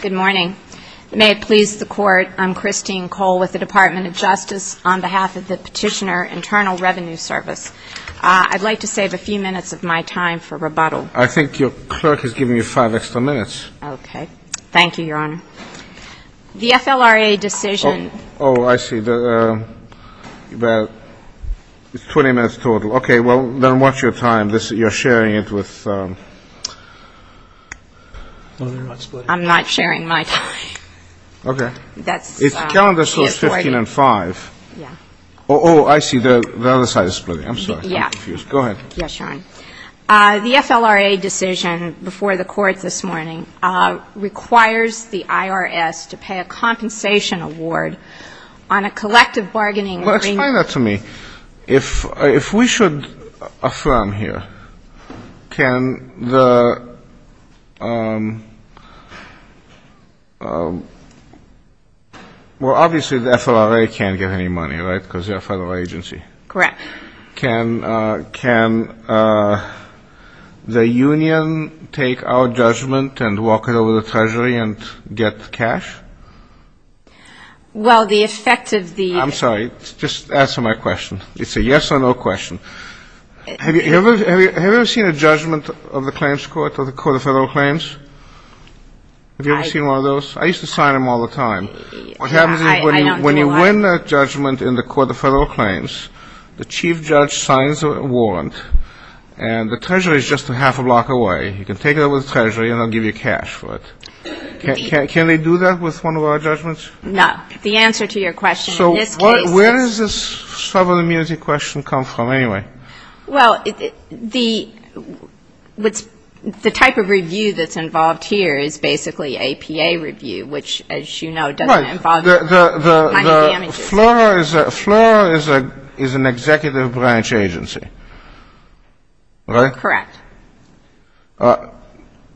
Good morning. May it please the Court, I'm Christine Cole with the Department of Justice on behalf of the Petitioner Internal Revenue Service. I'd like to save a few minutes of my time for rebuttal. I think your clerk has given you five extra minutes. Okay. Thank you. The FLRA decision before the Court this morning requires the IRS to pay a compensation award on a collective bargaining agreement. Well, explain that to me. If we should affirm here, can the — well, obviously the FLRA can't get any money, right, because they're a federal agency. Correct. Can the union take our judgment and walk it over to the Treasury and get cash? Well, the effect of the — I'm sorry. Just answer my question. It's a yes or no question. Have you ever seen a judgment of the claims court or the Court of Federal Claims? Have you ever seen one of those? I used to sign them all the time. I don't do that. What happens is when you win a judgment in the Court of Federal Claims, the chief judge signs a warrant, and the Treasury is just a half a block away. You can take it over to the Treasury, and they'll give you cash for it. Can they do that with one of our judgments? No. The answer to your question in this case is — So where does this sovereign immunity question come from, anyway? Well, the type of review that's involved here is basically APA review, which, as you know, doesn't involve — Right. The FLRA is an executive branch agency, right? Correct.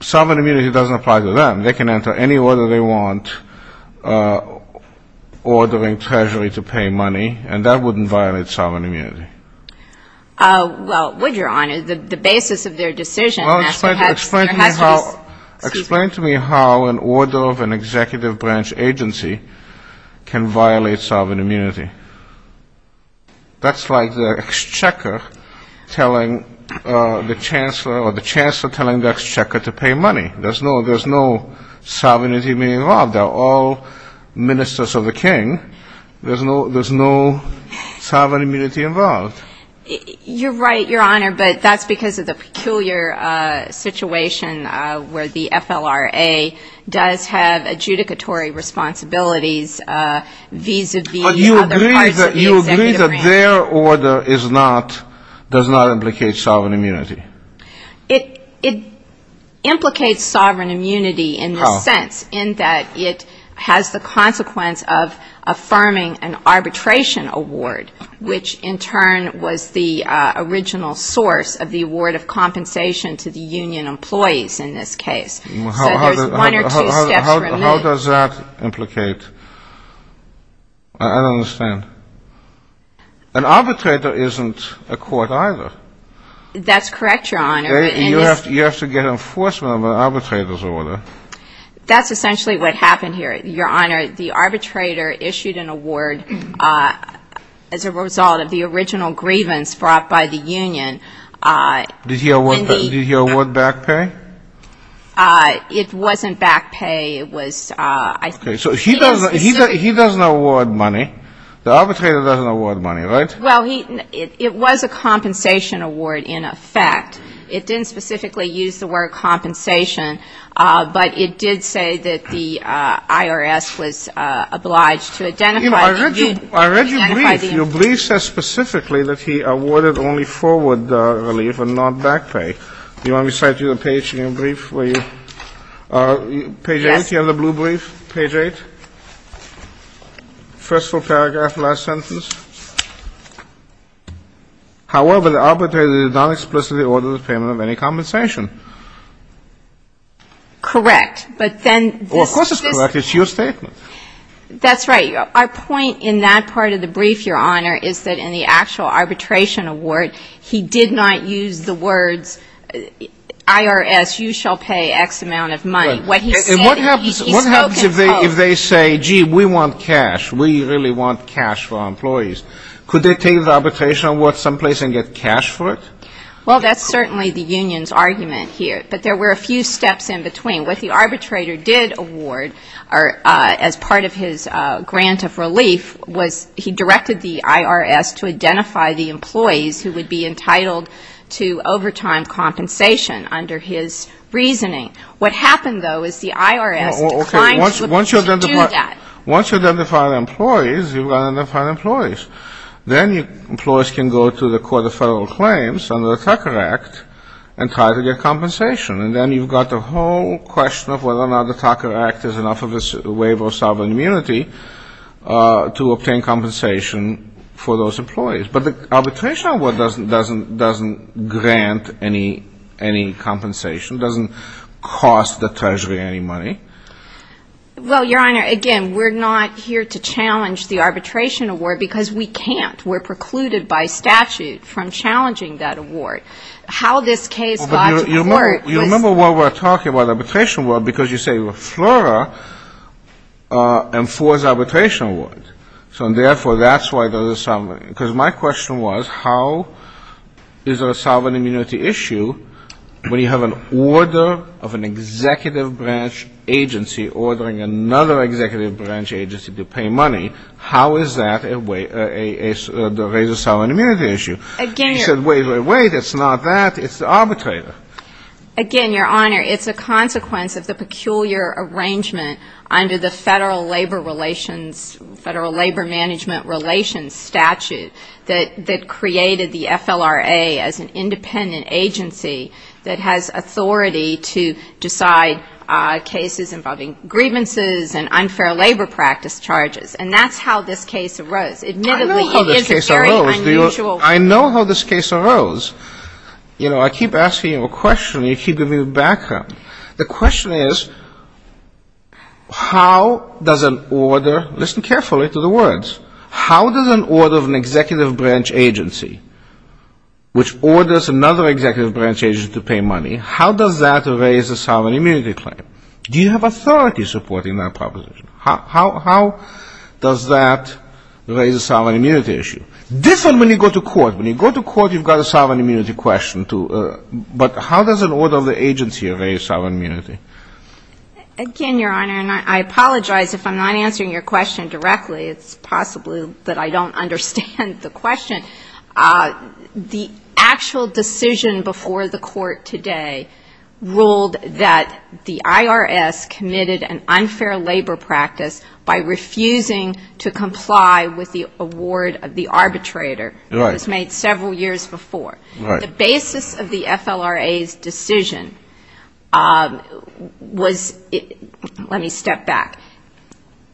Sovereign immunity doesn't apply to them. They can enter any order they want, ordering Treasury to pay money, and that wouldn't violate sovereign immunity. Well, would Your Honor? The basis of their decision — Well, explain to me how an order of an executive branch agency can violate sovereign immunity. That's like the exchequer telling the chancellor or the chancellor telling the exchequer to pay money. There's no sovereign immunity involved. They're all ministers of the king. There's no sovereign immunity involved. You're right, Your Honor, but that's because of the peculiar situation where the FLRA does have You agree that their order is not — does not implicate sovereign immunity? It implicates sovereign immunity in the sense in that it has the consequence of affirming an arbitration award, which in turn was the original source of the award of compensation to the union employees in this case. So there's one or two steps remaining. How does that implicate — I don't understand. An arbitrator isn't a court either. That's correct, Your Honor. You have to get enforcement of an arbitrator's order. That's essentially what happened here, Your Honor. The arbitrator issued an award as a result of the original grievance brought by the union. Did he award back pay? It wasn't back pay. It was — Okay. So he doesn't — he doesn't award money. The arbitrator doesn't award money, right? Well, he — it was a compensation award in effect. It didn't specifically use the word compensation, but it did say that the IRS was obliged to identify — I read your brief. Your brief says specifically that he awarded only forward relief and not back pay. Do you want me to cite you the page in your brief for you? Yes. Page 8, the other blue brief, page 8. First full paragraph, last sentence. However, the arbitrator did not explicitly order the payment of any compensation. Correct. But then this — Well, of course it's correct. It's your statement. That's right. Our point in that part of the brief, Your Honor, is that in the actual arbitration award, he did not use the words IRS, you shall pay X amount of money. What he said — And what happens — He spoke in full. What happens if they say, gee, we want cash, we really want cash for our employees? Could they take the arbitration award someplace and get cash for it? Well, that's certainly the union's argument here. But there were a few steps in between. What the arbitrator did award as part of his grant of relief was he directed the IRS to identify the employees who would be entitled to overtime compensation under his reasoning. What happened, though, is the IRS declined to do that. Once you identify the employees, you've got to identify the employees. Then the employees can go to the Court of Federal Claims under the Tucker Act and try to get compensation. And then you've got the whole question of whether or not the Tucker Act is enough of a waiver of sovereign immunity to obtain compensation for those employees. But the arbitration award doesn't grant any compensation, doesn't cost the Treasury any money. Well, Your Honor, again, we're not here to challenge the arbitration award because we can't. We're precluded by statute from challenging that award. How this case got to court was — Well, but you remember what we're talking about, arbitration award, because you say FLORA enforces arbitration award. So, and therefore, that's why there's a — because my question was how is there a sovereign immunity issue when you have an order of an executive branch agency ordering another executive branch agency to pay money? How is that a — a — a sovereign immunity issue? Again — You said, wait, wait, wait. It's not that. It's the arbitrator. Again, Your Honor, it's a consequence of the peculiar arrangement under the Federal Labor Relations — Federal Labor Management Relations statute that — that created the FLRA as an independent agency that has authority to decide cases involving grievances and unfair labor practice charges. And that's how this case arose. Admittedly, it is a very unusual — I know how this case arose. I know how this case arose. You know, I keep asking you a question, and you keep giving me the background. The question is how does an order — listen carefully to the words. How does an order of an executive branch agency, which orders another executive branch agency to pay money, how does that raise a sovereign immunity claim? Do you have authority supporting that proposition? How — how — how does that raise a sovereign immunity issue? Different when you go to court. When you go to court, you've got a sovereign immunity question to — but how does an order of the agency raise sovereign immunity? Again, Your Honor, and I apologize if I'm not answering your question directly. It's possibly that I don't understand the question. The actual decision before the court today ruled that the IRS committed an unfair labor practice by refusing to comply with the award of the arbitrator. Right. It was made several years before. Right. The basis of the FLRA's decision was — let me step back.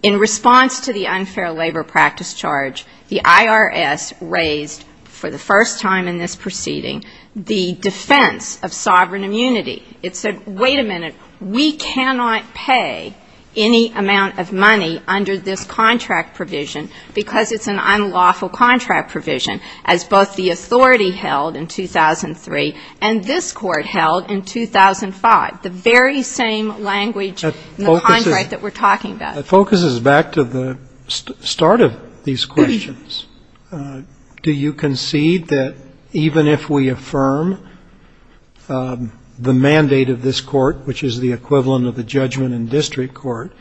In response to the unfair labor practice charge, the IRS raised, for the first time in this proceeding, the defense of sovereign immunity. It said, wait a minute, we cannot pay any amount of money under this contract provision because it's an unlawful contract provision, as both the authority held in 2003 and this Court held in 2005, the very same language in the contract that we're talking about. That focuses back to the start of these questions. Do you concede that even if we affirm the mandate of this Court, which is the equivalent of the judgment in district court,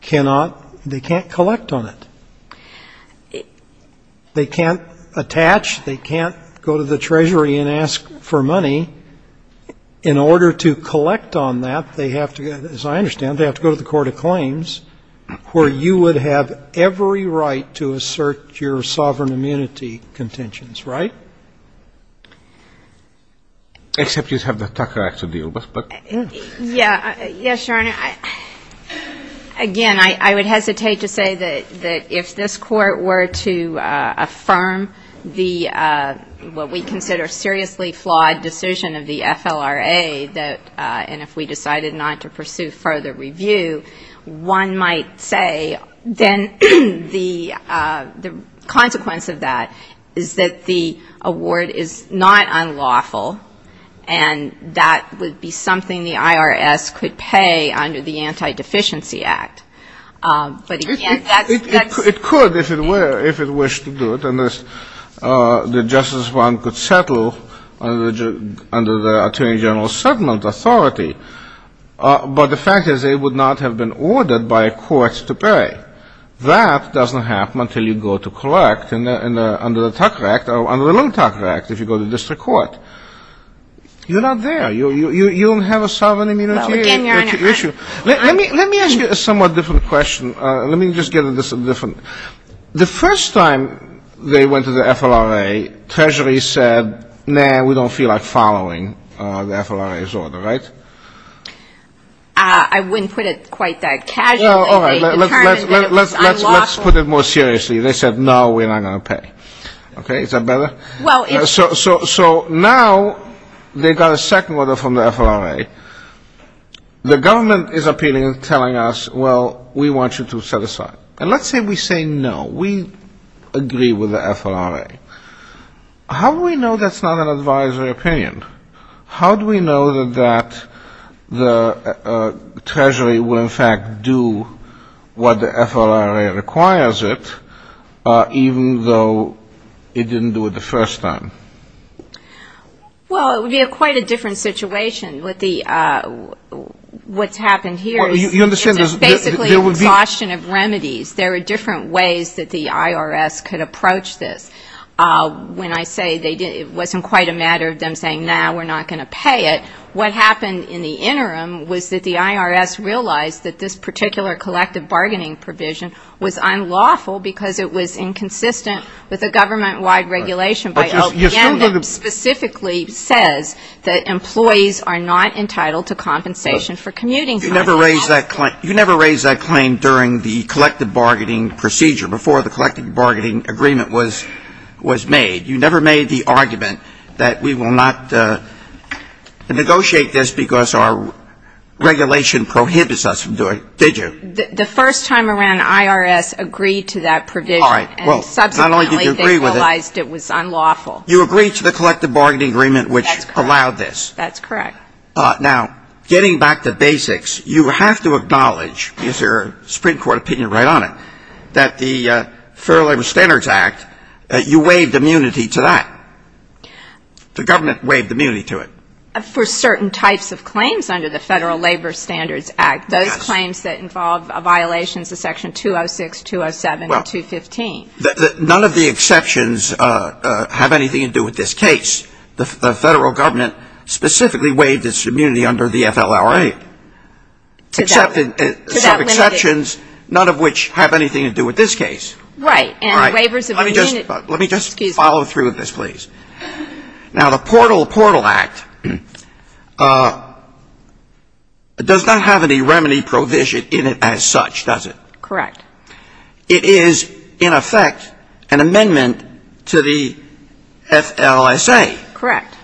cannot — they can't collect on it? They can't attach. They can't go to the Treasury and ask for money. In order to collect on that, they have to, as I understand, they have to go to the court of claims where you would have every right to assert your sovereign immunity contentions, right? Except you'd have the Tucker Act to deal with, but — Yeah. Yes, Your Honor. Again, I would hesitate to say that if this Court were to affirm the — what we consider a seriously flawed decision of the FLRA that — and if we decided not to pursue further review, one might say then the consequence of that is that the award is not unlawful, and that would be something the IRS could pay under the Anti-Deficiency Act. But, again, that's — if it wished to do it, and the Justice Department could settle under the Attorney General's settlement authority. But the fact is it would not have been ordered by a court to pay. That doesn't happen until you go to collect under the Tucker Act or under the Lung-Tucker Act, if you go to district court. You're not there. You don't have a sovereign immunity issue. Well, again, Your Honor, I'm — Let me ask you a somewhat different question. Let me just get at this a different — the first time they went to the FLRA, Treasury said, nah, we don't feel like following the FLRA's order, right? I wouldn't put it quite that casually. Well, all right. Let's put it more seriously. They said, no, we're not going to pay. Okay? Is that better? Well, if — So now they got a second order from the FLRA. The government is appealing and telling us, well, we want you to set aside. And let's say we say, no, we agree with the FLRA. How do we know that's not an advisory opinion? How do we know that the Treasury will, in fact, do what the FLRA requires it, even though it didn't do it the first time? Well, it would be quite a different situation. What's happened here is it's basically an exhaustion of remedies. There are different ways that the IRS could approach this. When I say it wasn't quite a matter of them saying, nah, we're not going to pay it, what happened in the interim was that the IRS realized that this particular collective bargaining provision was unlawful because it was inconsistent with a You never raised that claim during the collective bargaining procedure, before the collective bargaining agreement was made. You never made the argument that we will not negotiate this because our regulation prohibits us from doing it, did you? The first time around, the IRS agreed to that provision. All right. Well, not only did you agree with it — And subsequently, they realized it was unlawful. You agreed to the collective bargaining agreement, which allowed this. That's correct. Now, getting back to basics, you have to acknowledge, is your Supreme Court opinion right on it, that the Federal Labor Standards Act, you waived immunity to that. The government waived immunity to it. For certain types of claims under the Federal Labor Standards Act, those claims that involve violations of Section 206, 207, and 215. None of the exceptions have anything to do with this case. The Federal government specifically waived its immunity under the FLRA. Except in some exceptions, none of which have anything to do with this case. Right. And waivers of immunity — Let me just follow through with this, please. Now, the Portal Act does not have any remedy provision in it as such, does it? Correct. It is, in effect, an amendment to the FLSA. Correct.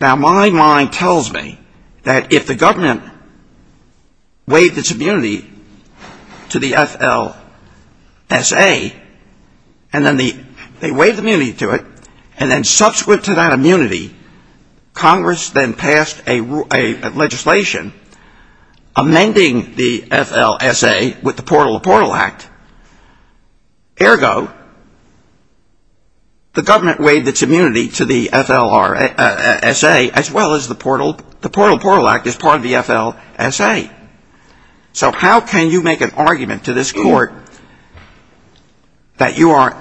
Now, my mind tells me that if the government waived its immunity to the FLSA, and then they waived immunity to it, and then subsequent to that immunity, Congress then passed a legislation amending the FLSA with the Portal to Portal Act. Ergo, the government waived its immunity to the FLSA, as well as the Portal to Portal Act as part of the FLSA. So how can you make an argument to this Court that you are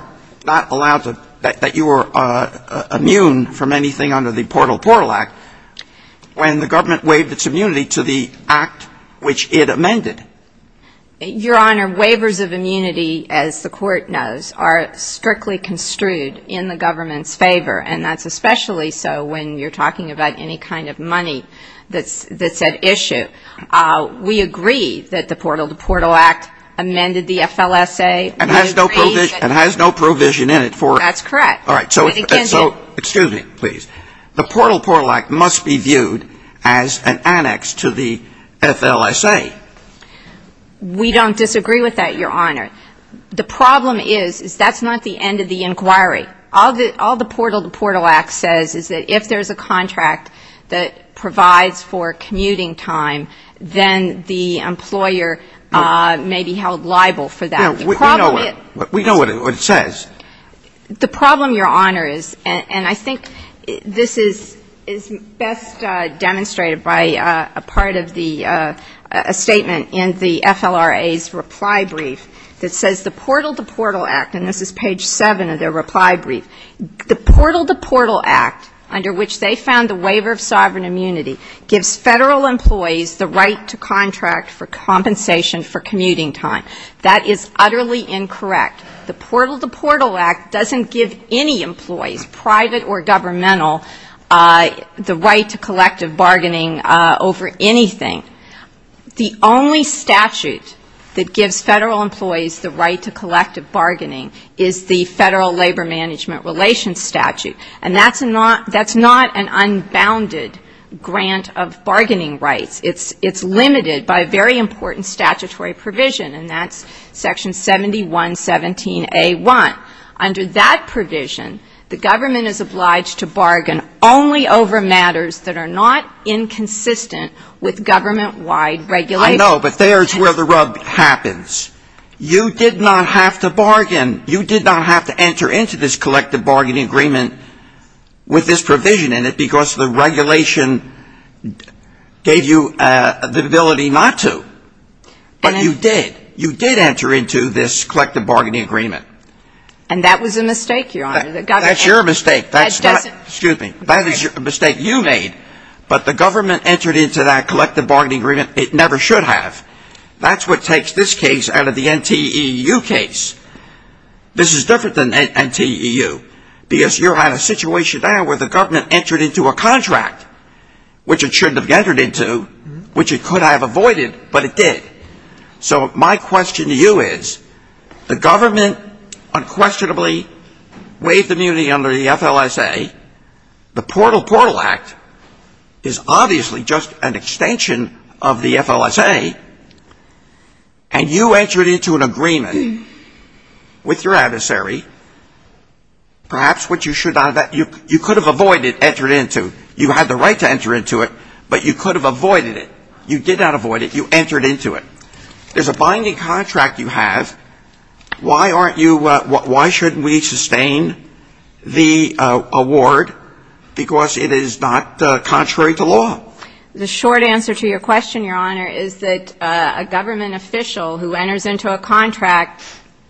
not allowed to — that you are immune from anything under the Portal to Portal Act when the government waived its immunity to the act which it amended? Your Honor, waivers of immunity, as the Court knows, are strictly construed in the government's favor, and that's especially so when you're talking about any kind of money that's at issue. We agree that the Portal to Portal Act amended the FLSA. And has no provision in it for — That's correct. All right. So, excuse me, please. The Portal to Portal Act must be viewed as an annex to the FLSA. We don't disagree with that, Your Honor. The problem is, is that's not the end of the inquiry. All the Portal to Portal Act says is that if there's a contract that provides for commuting time, then the employer may be held liable for that. We know what it says. The problem, Your Honor, is, and I think this is best demonstrated by a part of the — a statement in the FLRA's reply brief that says the Portal to Portal Act, and this is page 7 of their reply brief, the Portal to Portal Act under which they found the waiver of sovereign immunity gives Federal employees the right to contract for compensation for commuting time. That is utterly incorrect. The Portal to Portal Act doesn't give any employees, private or governmental, the right to collective bargaining over anything. The only statute that gives Federal employees the right to collective bargaining is the Federal Labor Management Relations Statute. And that's not an unbounded grant of bargaining rights. It's limited by a very important statutory provision, and that's Section 7117A1. Under that provision, the government is obliged to bargain only over matters that are not inconsistent with government-wide regulations. I know, but there's where the rub happens. You did not have to bargain. You did not have to enter into this collective bargaining agreement with this provision in it because the regulation gave you the ability not to. But you did. You did enter into this collective bargaining agreement. And that was a mistake, Your Honor. That's your mistake. Excuse me. That is a mistake you made, but the government entered into that collective bargaining agreement it never should have. That's what takes this case out of the NTEU case. This is different than NTEU because you're in a situation now where the government entered into a contract, which it shouldn't have entered into, which it could have avoided, but it did. So my question to you is the government unquestionably waived immunity under the FLSA. The Portal Portal Act is obviously just an extension of the FLSA, and you entered into an agreement with your adversary. Perhaps what you should have, you could have avoided entering into. You had the right to enter into it, but you could have avoided it. You did not avoid it. You entered into it. There's a binding contract you have. Why aren't you why shouldn't we sustain the award because it is not contrary to law? The short answer to your question, Your Honor, is that a government official who enters into a contract,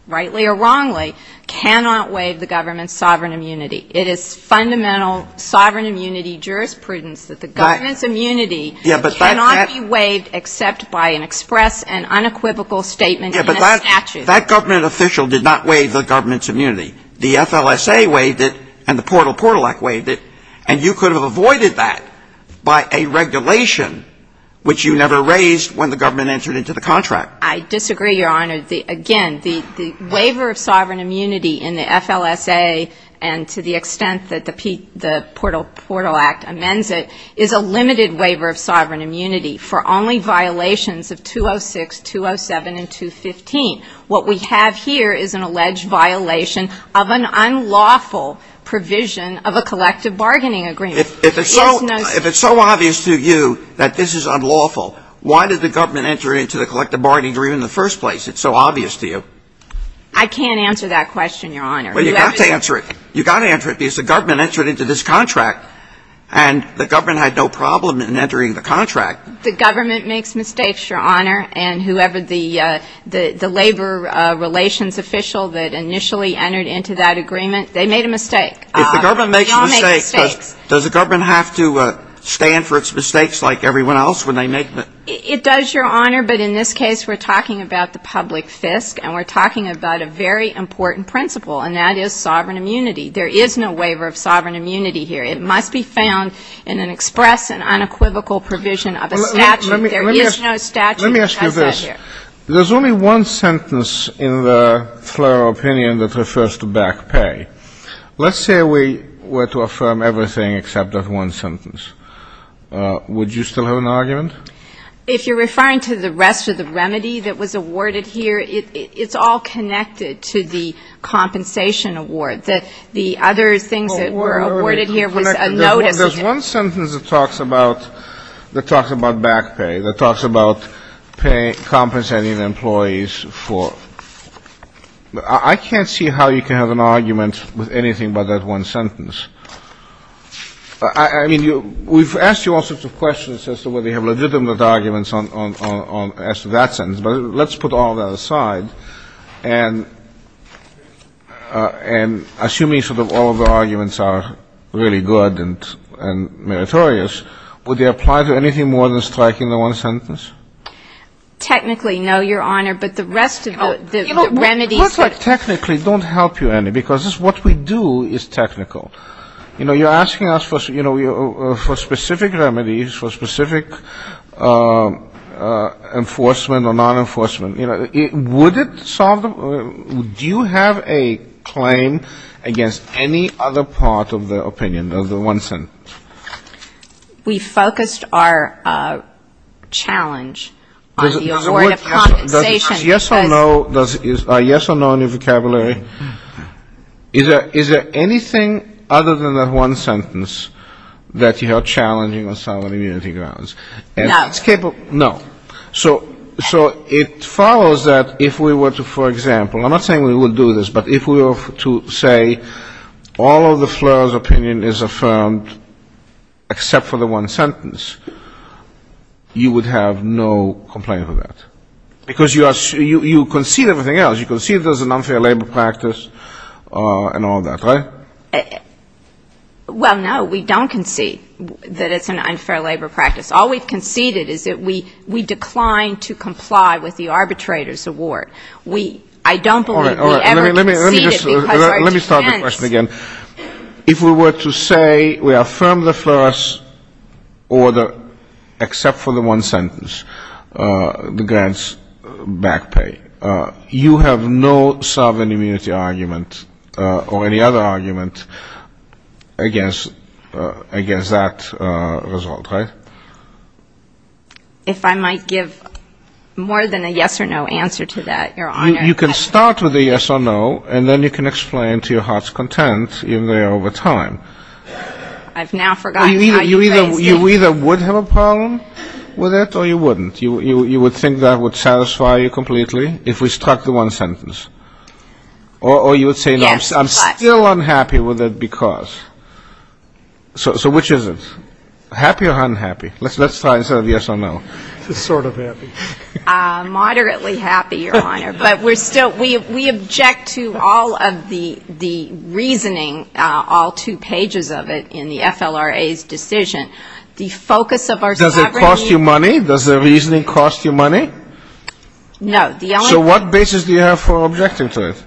rightly or wrongly, cannot waive the government's sovereign immunity. It is fundamental sovereign immunity jurisprudence that the government's immunity cannot be waived except by an express and unequivocal statement in a statute. But that government official did not waive the government's immunity. The FLSA waived it and the Portal Portal Act waived it, and you could have avoided that by a regulation, which you never raised when the government entered into the contract. I disagree, Your Honor. Again, the waiver of sovereign immunity in the FLSA and to the extent that the Portal Portal Act amends it is a limited waiver of sovereign immunity for only violations of 206, 207, and 215. What we have here is an alleged violation of an unlawful provision of a collective bargaining agreement. If it's so obvious to you that this is unlawful, why did the government enter into the collective bargaining agreement in the first place? It's so obvious to you. I can't answer that question, Your Honor. Well, you've got to answer it. You've got to answer it because the government entered into this contract and the government had no problem in entering the contract. The government makes mistakes, Your Honor, and whoever the labor relations official that initially entered into that agreement, they made a mistake. If the government makes a mistake, does the government have to stand for its mistakes like everyone else when they make them? It does, Your Honor, but in this case we're talking about the public fisc and we're talking about a very important principle, and that is sovereign immunity. There is no waiver of sovereign immunity here. It must be found in an express and unequivocal provision of a statute. There is no statute that does that here. Let me ask you this. There's only one sentence in the FLRA opinion that refers to back pay. Let's say we were to affirm everything except that one sentence. Would you still have an argument? If you're referring to the rest of the remedy that was awarded here, it's all connected to the compensation award. The other things that were awarded here was a notice. There's one sentence that talks about back pay, that talks about compensating employees for — I can't see how you can have an argument with anything but that one sentence. I mean, we've asked you all sorts of questions as to whether you have legitimate arguments as to that sentence, but let's put all that aside. And assuming sort of all of the arguments are really good and meritorious, would they apply to anything more than striking the one sentence? Technically, no, Your Honor, but the rest of the remedies that — Well, it's like technically don't help you any, because what we do is technical. You know, you're asking us for specific remedies, for specific enforcement or non-enforcement. Would it solve the — do you have a claim against any other part of the opinion of the one sentence? We focused our challenge on the award of compensation. Yes or no on your vocabulary? Is there anything other than that one sentence that you are challenging on solid immunity grounds? No. No. So it follows that if we were to, for example — I'm not saying we would do this, but if we were to say all of the FLIR's opinion is affirmed except for the one sentence, you would have no complaint with that? Because you concede everything else. You concede there's an unfair labor practice and all that, right? Well, no, we don't concede that it's an unfair labor practice. All we've conceded is that we declined to comply with the arbitrator's award. We — I don't believe we ever conceded because our defense — All right, all right. Let me start the question again. If we were to say we affirm the FLIR's order except for the one sentence, the grants back pay, you have no solid immunity argument or any other argument against that result, right? If I might give more than a yes or no answer to that, Your Honor. You can start with a yes or no, and then you can explain to your heart's content in there over time. I've now forgotten how you phrased it. You either would have a problem with it or you wouldn't. You would think that would satisfy you completely if we struck the one sentence. Or you would say, no, I'm still unhappy with it because — so which is it? Happy or unhappy? Let's try and say yes or no. Sort of happy. Moderately happy, Your Honor. But we're still — we object to all of the reasoning, all two pages of it, in the FLRA's decision. The focus of our collaboration — Does it cost you money? Does the reasoning cost you money? No. So what basis do you have for objecting to it?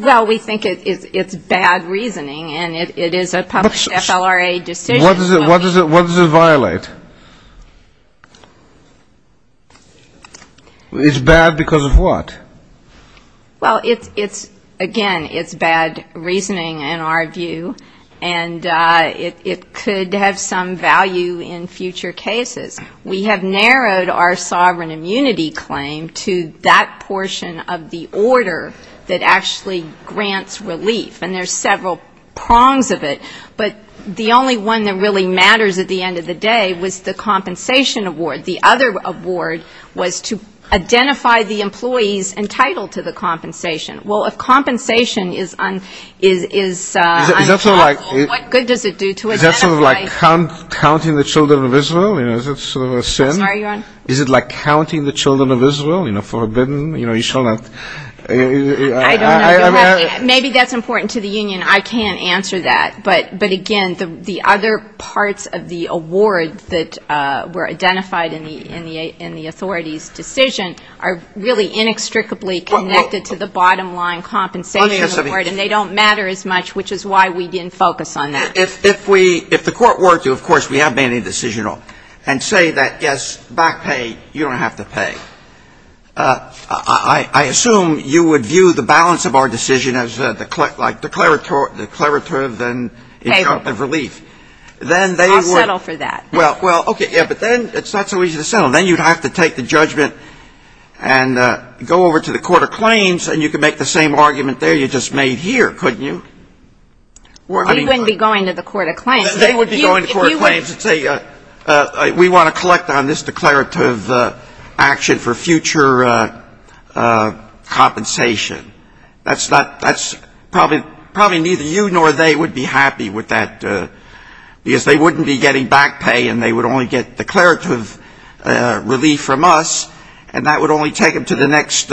Well, we think it's bad reasoning, and it is a public FLRA decision. What does it violate? It's bad because of what? Well, it's — again, it's bad reasoning in our view, and it could have some value in future cases. We have narrowed our sovereign immunity claim to that portion of the order that actually grants relief, and there's several prongs of it. But the only one that really matters at the end of the day was the compensation award. The other award was to identify the employees entitled to the compensation. Well, if compensation is — Is that sort of like — What good does it do to identify — Is that sort of like counting the children of Israel? You know, is that sort of a sin? I'm sorry, Your Honor. Is it like counting the children of Israel, you know, forbidden? You know, you shall not — I don't know. Maybe that's important to the union. I can't answer that. But, again, the other parts of the award that were identified in the authority's decision are really inextricably connected to the bottom-line compensation award, and they don't matter as much, which is why we didn't focus on that. If we — if the Court were to, of course, we have made a decision and say that, yes, back pay, you don't have to pay, I assume you would view the balance of our decision as, like, declarative and in terms of relief. I'll settle for that. Well, okay, yeah, but then it's not so easy to settle. Then you'd have to take the judgment and go over to the Court of Claims, and you could make the same argument there you just made here, couldn't you? We wouldn't be going to the Court of Claims. They would be going to the Court of Claims and say, we want to collect on this declarative action for future compensation. That's not — that's probably neither you nor they would be happy with that, because they wouldn't be getting back pay, and they would only get declarative relief from us, and that would only take them to the next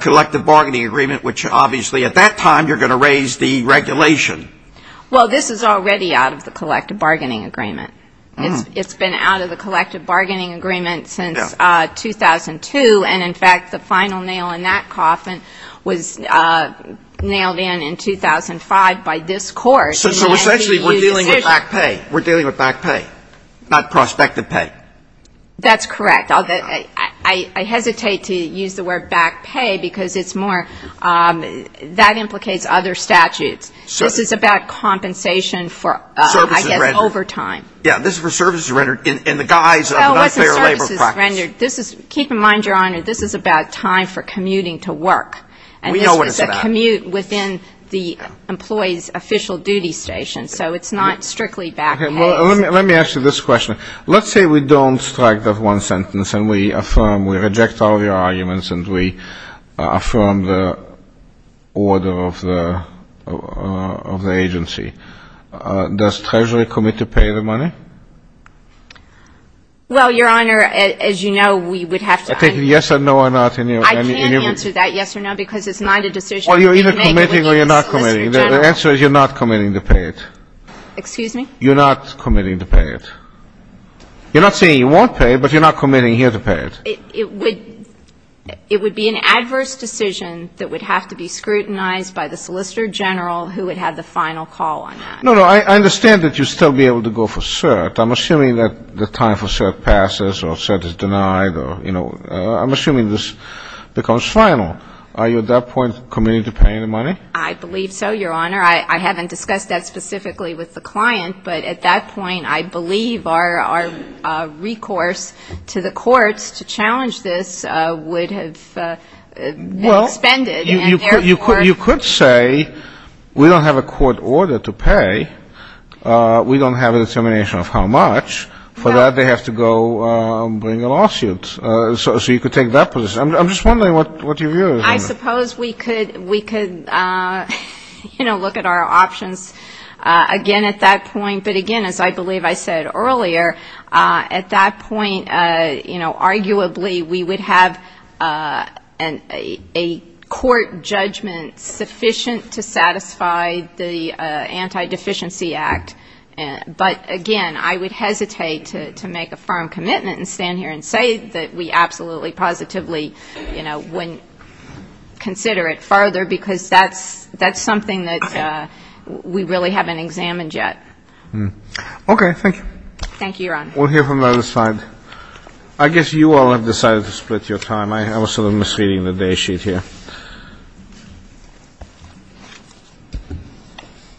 collective bargaining agreement, which obviously at that time you're going to raise the regulation. Well, this is already out of the collective bargaining agreement. It's been out of the collective bargaining agreement since 2002, and in fact the final nail in that coffin was nailed in in 2005 by this Court. So essentially we're dealing with back pay. We're dealing with back pay, not prospective pay. That's correct. I hesitate to use the word back pay because it's more — that implicates other statutes. This is about compensation for, I guess, overtime. Yeah, this is for services rendered in the guise of an unfair labor practice. Well, it wasn't services rendered. This is — keep in mind, Your Honor, this is about time for commuting to work. We know what it's about. And this was a commute within the employee's official duty station. So it's not strictly back pay. Let me ask you this question. Let's say we don't strike that one sentence and we affirm, we reject all of your arguments and we affirm the order of the agency. Does Treasury commit to pay the money? Well, Your Honor, as you know, we would have to — I'm taking yes and no or not in your — I can't answer that yes or no because it's not a decision — Well, you're either committing or you're not committing. The answer is you're not committing to pay it. Excuse me? You're not committing to pay it. You're not saying you won't pay it, but you're not committing here to pay it. It would be an adverse decision that would have to be scrutinized by the solicitor general who would have the final call on that. No, no. I understand that you'd still be able to go for cert. I'm assuming that the time for cert passes or cert is denied or, you know — I'm assuming this becomes final. Are you at that point committing to paying the money? I believe so, Your Honor. I haven't discussed that specifically with the client, but at that point, I believe our recourse to the courts to challenge this would have been expended. Well, you could say we don't have a court order to pay. We don't have a determination of how much. For that, they have to go bring a lawsuit. So you could take that position. I'm just wondering what your view is on that. I suppose we could, you know, look at our options again at that point. But, again, as I believe I said earlier, at that point, you know, arguably we would have a court judgment sufficient to satisfy the Anti-Deficiency Act. But, again, I would hesitate to make a firm commitment and stand here and say that we absolutely positively, you know, wouldn't consider it further because that's something that we really haven't examined yet. Okay. Thank you. Thank you, Your Honor. We'll hear from the other side. I guess you all have decided to split your time. I was sort of misreading the day sheet here.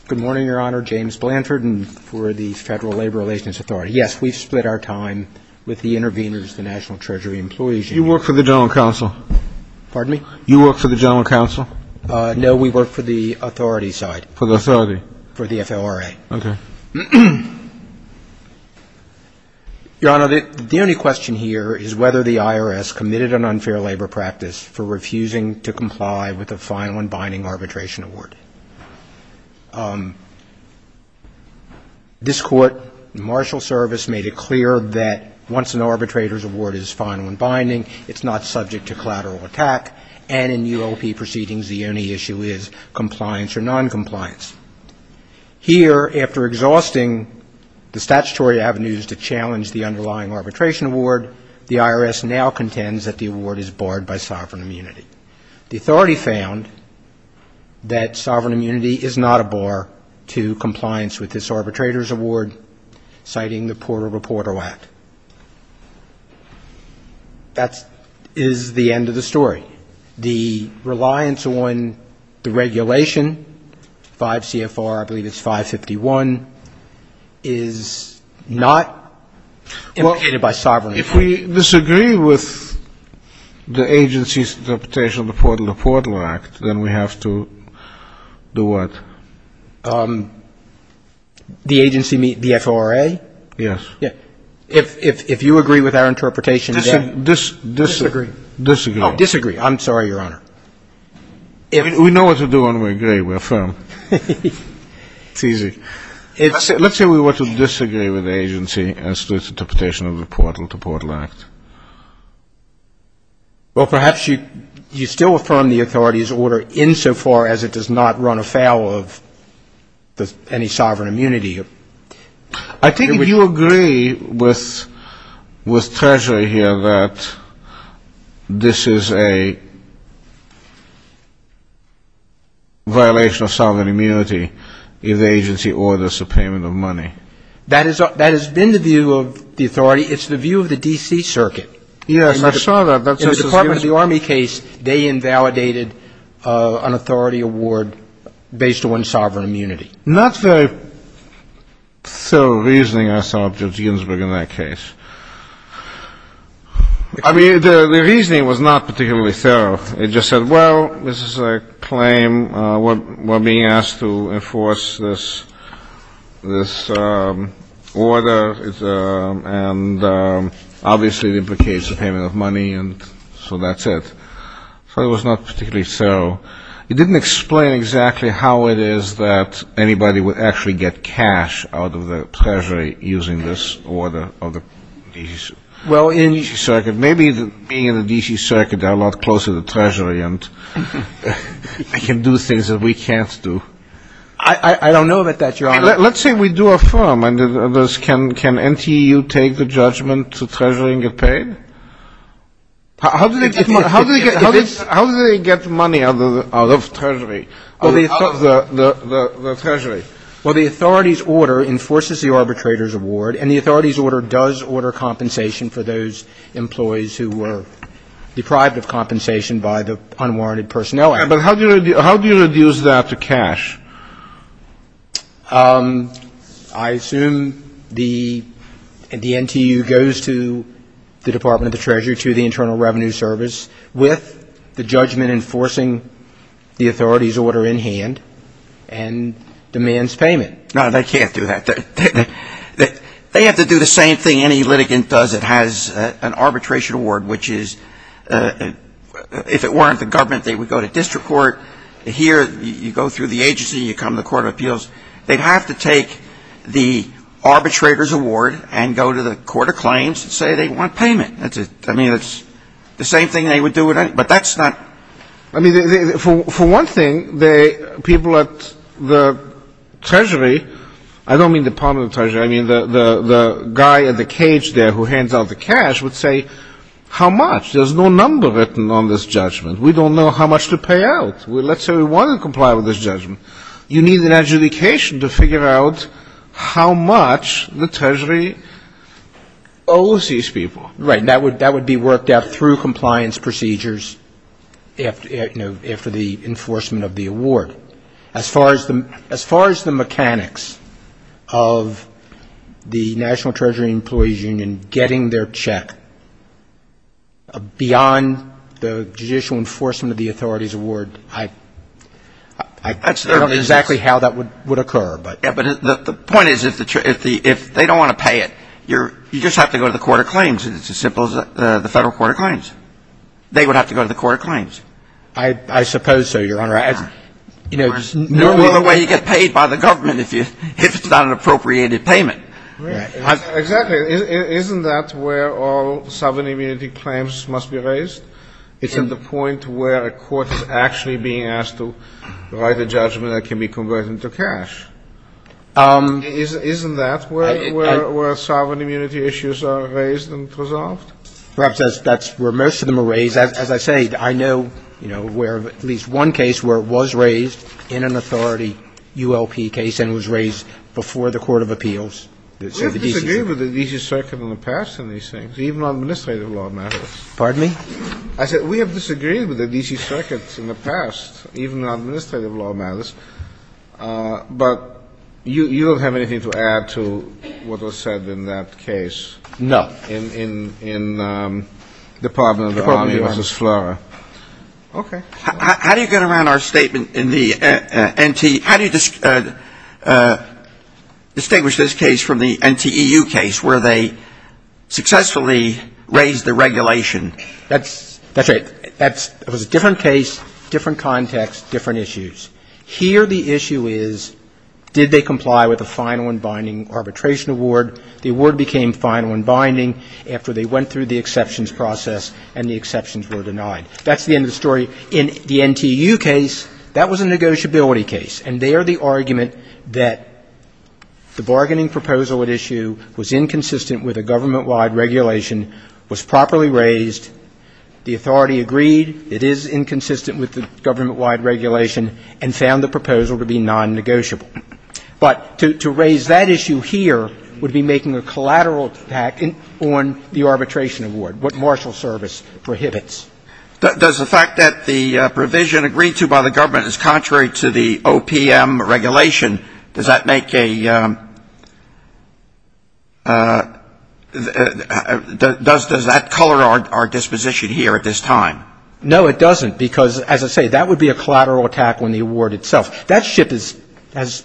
Good morning, Your Honor. James Blanford for the Federal Labor Relations Authority. Yes, we've split our time with the interveners, the National Treasury employees. You work for the General Counsel? Pardon me? You work for the General Counsel? No, we work for the authority side. For the authority? For the FLRA. Okay. Your Honor, the only question here is whether the IRS committed an unfair labor practice for refusing to comply with a final and binding arbitration award. This Court, the Marshal Service, made it clear that once an arbitrator's award is final and binding, it's not subject to collateral attack, and in UOP proceedings, the only issue is compliance or noncompliance. Here, after exhausting the statutory avenues to challenge the underlying arbitration award, the IRS now contends that the award is barred by sovereign immunity. The authority found that sovereign immunity is not a bar to compliance with this arbitrator's award, citing the Porter v. Porter Act. That is the end of the story. The reliance on the regulation, 5 CFR, I believe it's 551, is not indicated by sovereign immunity. If we disagree with the agency's interpretation of the Porter v. Porter Act, then we have to do what? The agency meets the FLRA? Yes. If you agree with our interpretation, then? Disagree. Disagree. Oh, disagree. I'm sorry, Your Honor. We know what to do when we agree. We're firm. It's easy. Let's say we were to disagree with the agency as to its interpretation of the Porter v. Porter Act. Well, perhaps you still affirm the authority's order insofar as it does not run afoul of any sovereign immunity. I think if you agree with Treasury here that this is a violation of sovereign immunity if the agency orders a payment of money. That has been the view of the authority. It's the view of the D.C. Circuit. Yes, I saw that. In the Department of the Army case, they invalidated an authority award based on sovereign immunity. Not very thorough reasoning, I saw, Judge Ginsburg, in that case. I mean, the reasoning was not particularly thorough. It just said, well, this is a claim. We're being asked to enforce this order, and obviously it implicates a payment of money, and so that's it. So it was not particularly thorough. It didn't explain exactly how it is that anybody would actually get cash out of the Treasury using this order of the D.C. Circuit. Maybe being in the D.C. Circuit, they're a lot closer to the Treasury and can do things that we can't do. I don't know about that, Your Honor. Let's say we do affirm. Can NTU take the judgment to Treasury and get paid? How do they get money out of Treasury, out of the Treasury? Well, the authority's order enforces the arbitrator's award, and the authority's order does order compensation for those employees who were deprived of compensation by the unwarranted personnel. But how do you reduce that to cash? I assume the NTU goes to the Department of the Treasury, to the Internal Revenue Service, with the judgment enforcing the authority's order in hand and demands payment. No, they can't do that. They have to do the same thing any litigant does that has an arbitration award, which is if it weren't the government, they would go to district court. Here, you go through the agency, you come to the Court of Appeals. They'd have to take the arbitrator's award and go to the Court of Claims and say they want payment. I mean, it's the same thing they would do, but that's not. I mean, for one thing, people at the Treasury, I don't mean Department of the Treasury, I mean the guy in the cage there who hands out the cash would say, how much? There's no number written on this judgment. We don't know how much to pay out. Let's say we want to comply with this judgment. You need an adjudication to figure out how much the Treasury owes these people. Right, and that would be worked out through compliance procedures after the enforcement of the award. As far as the mechanics of the National Treasury Employees Union getting their check beyond the judicial enforcement of the authority's award, I don't know exactly how that would occur. Yeah, but the point is if they don't want to pay it, you just have to go to the Court of Claims, and it's as simple as the Federal Court of Claims. They would have to go to the Court of Claims. I suppose so, Your Honor. There's no other way you get paid by the government if it's not an appropriated payment. Right. Exactly. Isn't that where all sovereign immunity claims must be raised? It's at the point where a court is actually being asked to write a judgment that can be converted into cash. Isn't that where sovereign immunity issues are raised and resolved? Perhaps that's where most of them are raised. As I say, I know, you know, where at least one case where it was raised in an authority ULP case and was raised before the court of appeals. We have disagreed with the D.C. Circuit in the past on these things, even on administrative law matters. Pardon me? I said we have disagreed with the D.C. Circuit in the past, even on administrative law matters. But you don't have anything to add to what was said in that case? No. In Department of the Army v. Flora. Department of the Army. Okay. How do you get around our statement in the NTEU? How do you distinguish this case from the NTEU case where they successfully raised the regulation? That's right. It was a different case, different context, different issues. Here the issue is did they comply with the final and binding arbitration award? The award became final and binding after they went through the exceptions process and the exceptions were denied. That's the end of the story. In the NTEU case, that was a negotiability case. And there the argument that the bargaining proposal at issue was inconsistent with a government-wide regulation was properly raised. The authority agreed it is inconsistent with the government-wide regulation and found the proposal to be nonnegotiable. But to raise that issue here would be making a collateral impact on the arbitration award, what Marshall Service prohibits. Does the fact that the provision agreed to by the government is contrary to the OPM regulation, does that make a does that color our disposition here at this time? No, it doesn't. Because, as I say, that would be a collateral attack on the award itself. That ship has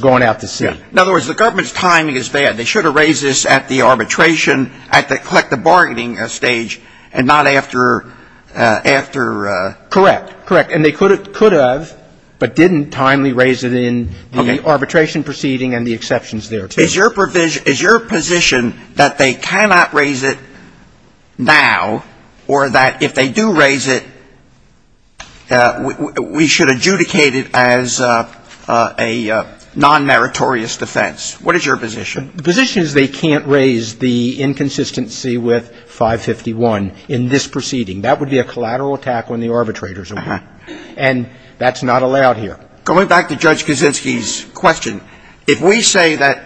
gone out to sea. In other words, the government's timing is bad. They should have raised this at the arbitration, at the collective bargaining stage, and not after ‑‑ after ‑‑ Correct. Correct. And they could have, but didn't timely raise it in the arbitration proceeding and the exceptions there. Is your position that they cannot raise it now or that if they do raise it, we should adjudicate it as a nonmeritorious defense? What is your position? The position is they can't raise the inconsistency with 551 in this proceeding. That would be a collateral attack on the arbitrator's award. And that's not allowed here. Going back to Judge Kaczynski's question, if we say that,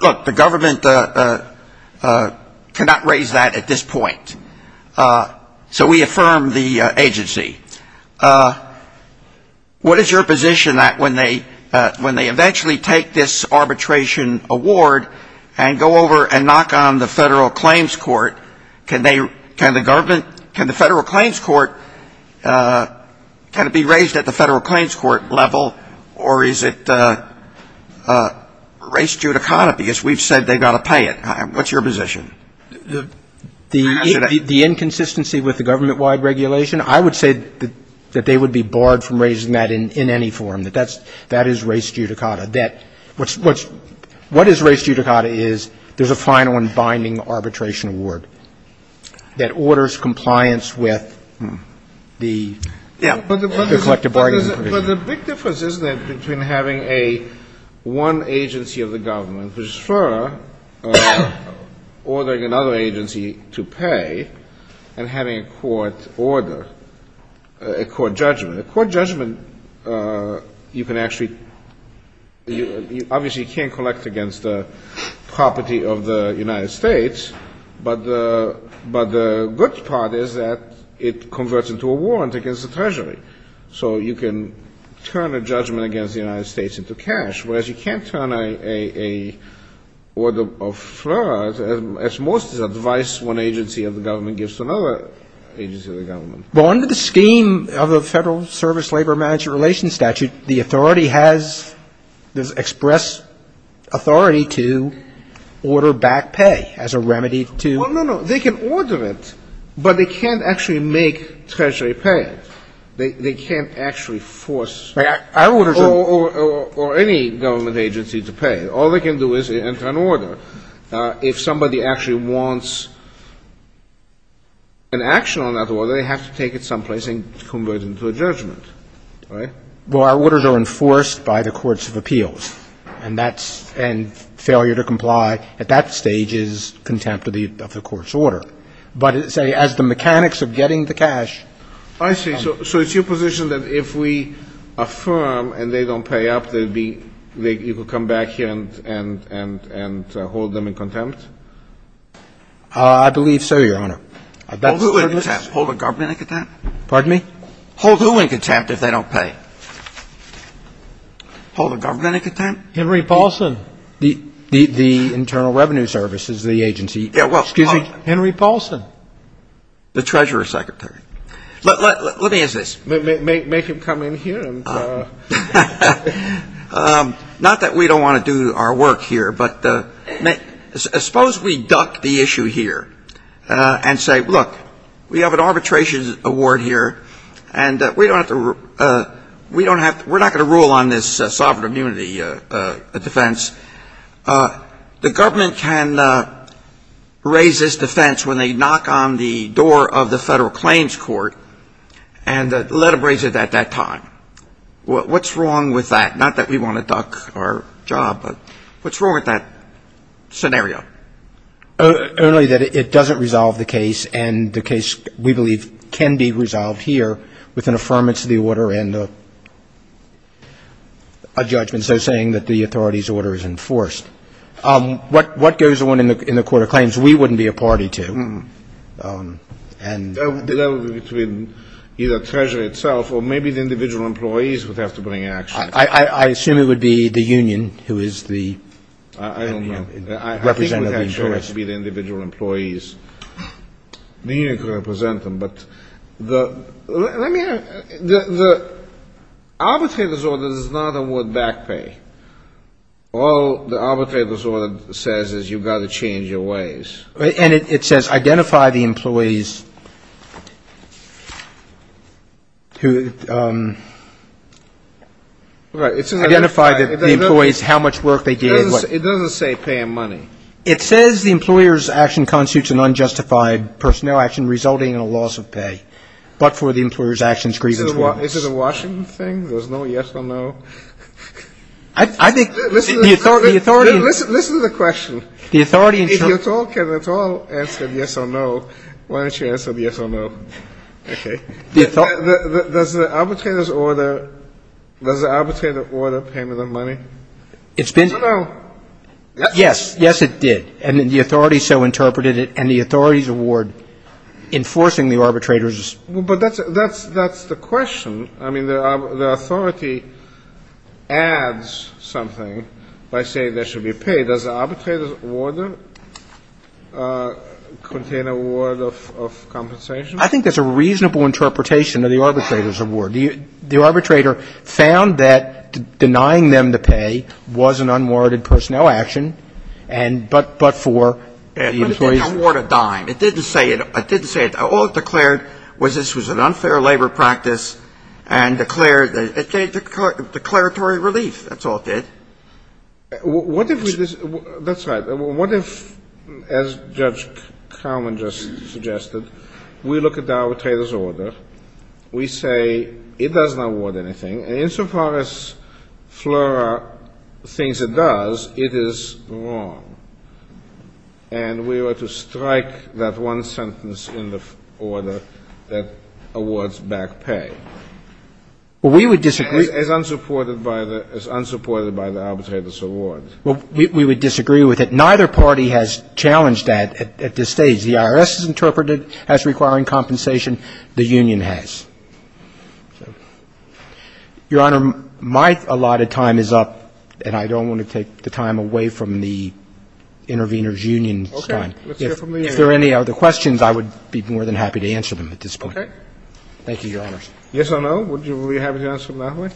look, the government cannot raise that at this point, so we affirm the agency, what is your position that when they eventually take this arbitration award and go over and knock on the Federal Claims Court, can they ‑‑ can the government ‑‑ can the Federal Claims Court ‑‑ can it be raised at the Federal Claims Court level or is it race judicata because we've said they've got to pay it? What's your position? The inconsistency with the government-wide regulation? I would say that they would be barred from raising that in any form, that that is race judicata. What is race judicata is there's a final and binding arbitration award that orders compliance with the collective bargaining provision. But the big difference, isn't it, between having a one agency of the government, which is FERA, ordering another agency to pay and having a court order, a court judgment. A court judgment you can actually ‑‑ you obviously can't collect against the property of the United States, but the good part is that it converts into a warrant against the Treasury. So you can turn a judgment against the United States into cash, whereas you can't turn a order of FERA, as most advise one agency of the government gives to another agency of the government. Well, under the scheme of the Federal Service Labor Management Relations Statute, the authority has expressed authority to order back pay as a remedy to ‑‑ Well, no, no. They can order it, but they can't actually make Treasury pay it. They can't actually force ‑‑ Our orders are ‑‑ Or any government agency to pay. All they can do is enter an order. If somebody actually wants an action on that order, they have to take it someplace and convert it into a judgment. Right? Well, our orders are enforced by the courts of appeals. And that's ‑‑ and failure to comply at that stage is contempt of the court's order. But as the mechanics of getting the cash ‑‑ I see. So it's your position that if we affirm and they don't pay up, you can come back here and hold them in contempt? I believe so, Your Honor. Hold who in contempt? Hold the government in contempt? Pardon me? Hold who in contempt if they don't pay? Hold the government in contempt? Henry Paulson. The Internal Revenue Service is the agency. Yeah, well ‑‑ Excuse me? Henry Paulson. The Treasurer's secretary. Let me ask this. Make him come in here. Not that we don't want to do our work here, but suppose we duck the issue here and say, Look, we have an arbitration award here, and we don't have to ‑‑ we're not going to rule on this sovereign immunity defense. The government can raise this defense when they knock on the door of the Federal Claims Court and let them raise it at that time. What's wrong with that? Not that we want to duck our job, but what's wrong with that scenario? Only that it doesn't resolve the case, and the case, we believe, can be resolved here with an affirmance of the order and a judgment, so saying that the authority's order is enforced. What goes on in the Court of Claims we wouldn't be a party to? That would be between either Treasury itself or maybe the individual employees would have to bring action. I assume it would be the union who is the representative. I don't know. I think it would have to be the individual employees. The union could represent them, but let me ‑‑ the arbitration order is not a word back pay. All the arbitration order says is you've got to change your ways. And it says identify the employees who ‑‑ Right. Identify the employees, how much work they did. It doesn't say pay and money. It says the employer's action constitutes an unjustified personnel action resulting in a loss of pay, but for the employer's actions, grievance ‑‑ Is it a Washington thing? There's no yes or no? I think the authority ‑‑ Listen to the question. If you can at all answer yes or no, why don't you answer yes or no? Okay. Does the arbitrator's order ‑‑ does the arbitrator order payment of money? It's been ‑‑ No, no. Yes. Yes, it did. And the authority so interpreted it, and the authority's award enforcing the arbitrator's ‑‑ But that's the question. I mean, the authority adds something by saying there should be pay. Does the arbitrator's order contain a word of compensation? I think there's a reasonable interpretation of the arbitrator's award. The arbitrator found that denying them to pay was an unwarranted personnel action, but for the employees ‑‑ But it didn't award a dime. It didn't say it. All it declared was this was an unfair labor practice and declared ‑‑ declaratory relief. That's all it did. What if we ‑‑ that's right. What if, as Judge Carman just suggested, we look at the arbitrator's order, we say it doesn't award anything, and insofar as FLRA thinks it does, it is wrong, and we were to strike that one sentence in the order that awards back pay? Well, we would disagree. As unsupported by the ‑‑ as unsupported by the arbitrator's award. We would disagree with it. Neither party has challenged that at this stage. The IRS has interpreted as requiring compensation. The union has. Your Honor, my allotted time is up, and I don't want to take the time away from the intervener's union time. Okay. Let's hear from the union. If there are any other questions, I would be more than happy to answer them at this point. Okay. Thank you, Your Honors. Yes or no? Would you be happy to answer them that way?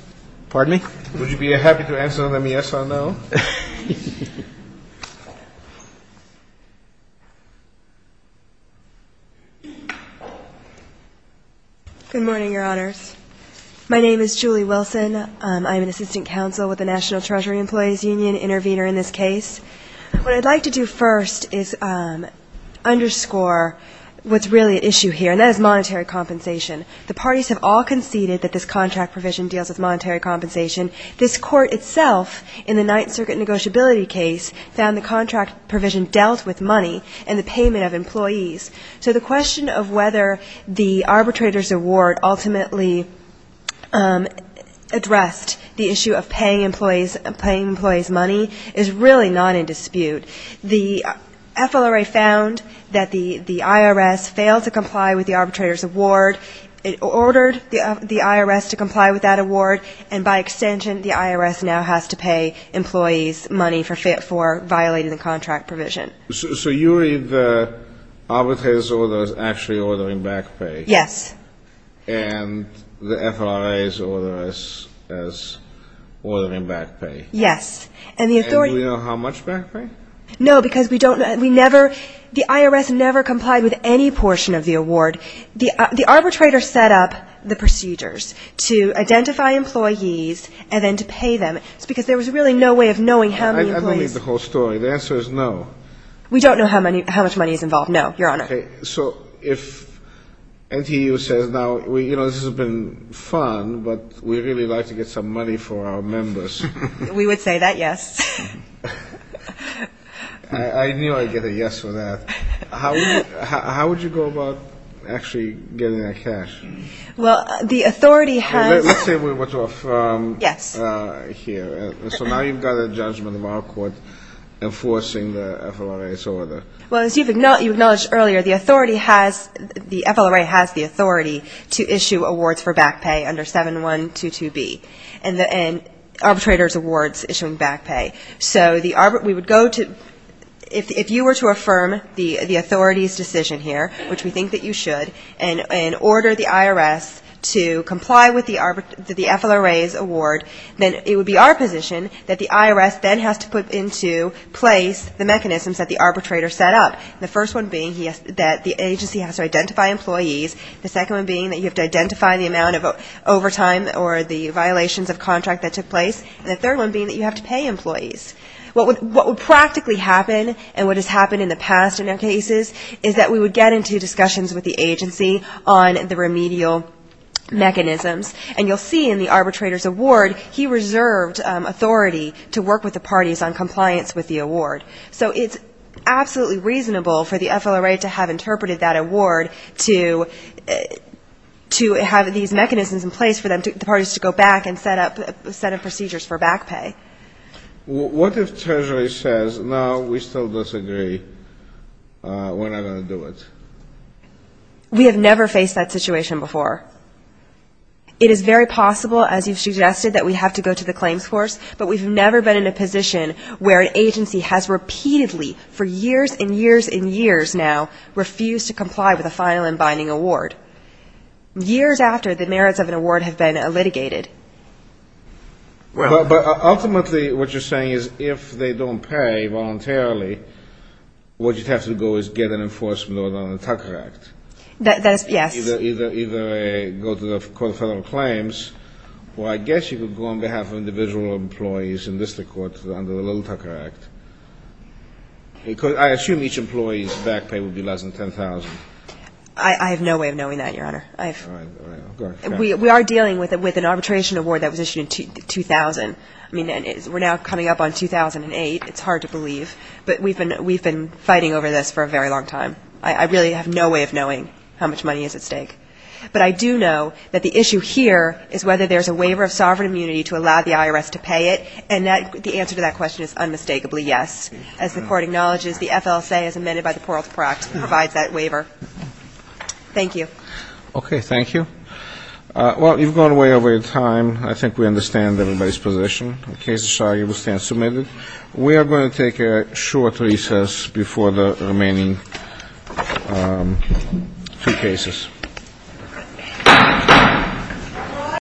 Pardon me? Would you be happy to answer them yes or no? Good morning, Your Honors. My name is Julie Wilson. I'm an assistant counsel with the National Treasury Employees Union, intervener in this case. What I'd like to do first is underscore what's really at issue here, and that is monetary compensation. The parties have all conceded that this contract provision deals with monetary compensation. This court itself, in the Ninth Circuit negotiability case, found the contract provision dealt with money and the payment of employees. So the question of whether the arbitrator's award ultimately addressed the issue of paying employees money is really not in dispute. The FLRA found that the IRS failed to comply with the arbitrator's award. It ordered the IRS to comply with that award, and by extension, the IRS now has to pay employees money for violating the contract provision. So you read the arbitrator's order as actually ordering back pay? Yes. And the FLRA's order as ordering back pay? Yes. And do we know how much back pay? No, because we don't know. We never – the IRS never complied with any portion of the award. The arbitrator set up the procedures to identify employees and then to pay them. It's because there was really no way of knowing how many employees. I don't read the whole story. The answer is no. We don't know how much money is involved, no, Your Honor. Okay. So if NTU says, now, you know, this has been fun, but we'd really like to get some money for our members. We would say that, yes. I knew I'd get a yes for that. How would you go about actually getting that cash? Well, the authority has – Let's say we were to affirm here. So now you've got a judgment of our court enforcing the FLRA's order. Well, as you acknowledged earlier, the authority has – the FLRA has the authority to issue awards for back pay under 7122B and arbitrator's awards issuing back pay. So we would go to – if you were to affirm the authority's decision here, which we think that you should, and order the IRS to comply with the FLRA's award, then it would be our position that the IRS then has to put into place the mechanisms that the arbitrator set up, the first one being that the agency has to identify employees, the second one being that you have to identify the amount of overtime or the violations of contract that took place, and the third one being that you have to pay employees. What would practically happen, and what has happened in the past in our cases, is that we would get into discussions with the agency on the remedial mechanisms. And you'll see in the arbitrator's award, he reserved authority to work with the parties on compliance with the award. So it's absolutely reasonable for the FLRA to have interpreted that award to have these mechanisms in place for the parties to go back and set up procedures for back pay. What if Treasury says, no, we still disagree, we're not going to do it? We have never faced that situation before. It is very possible, as you've suggested, that we have to go to the claims force, but we've never been in a position where an agency has repeatedly, for years and years and years now, refused to comply with a final and binding award, years after the merits of an award have been litigated. But ultimately what you're saying is if they don't pay voluntarily, what you'd have to do is get an enforcement order on the Tucker Act. Yes. Either go to the Court of Federal Claims, or I guess you could go on behalf of individual employees in district courts under the Little Tucker Act. I assume each employee's back pay would be less than $10,000. I have no way of knowing that, Your Honor. All right. Go ahead. We are dealing with an arbitration award that was issued in 2000. I mean, we're now coming up on 2008. It's hard to believe. But we've been fighting over this for a very long time. I really have no way of knowing how much money is at stake. But I do know that the issue here is whether there's a waiver of sovereign immunity to allow the IRS to pay it, and the answer to that question is unmistakably yes. As the Court acknowledges, the FLSA, as amended by the Parole Department, provides that waiver. Thank you. Okay. Thank you. Well, you've gone way over your time. I think we understand everybody's position. The case is signed. It will stand submitted. We are going to take a short recess before the remaining two cases.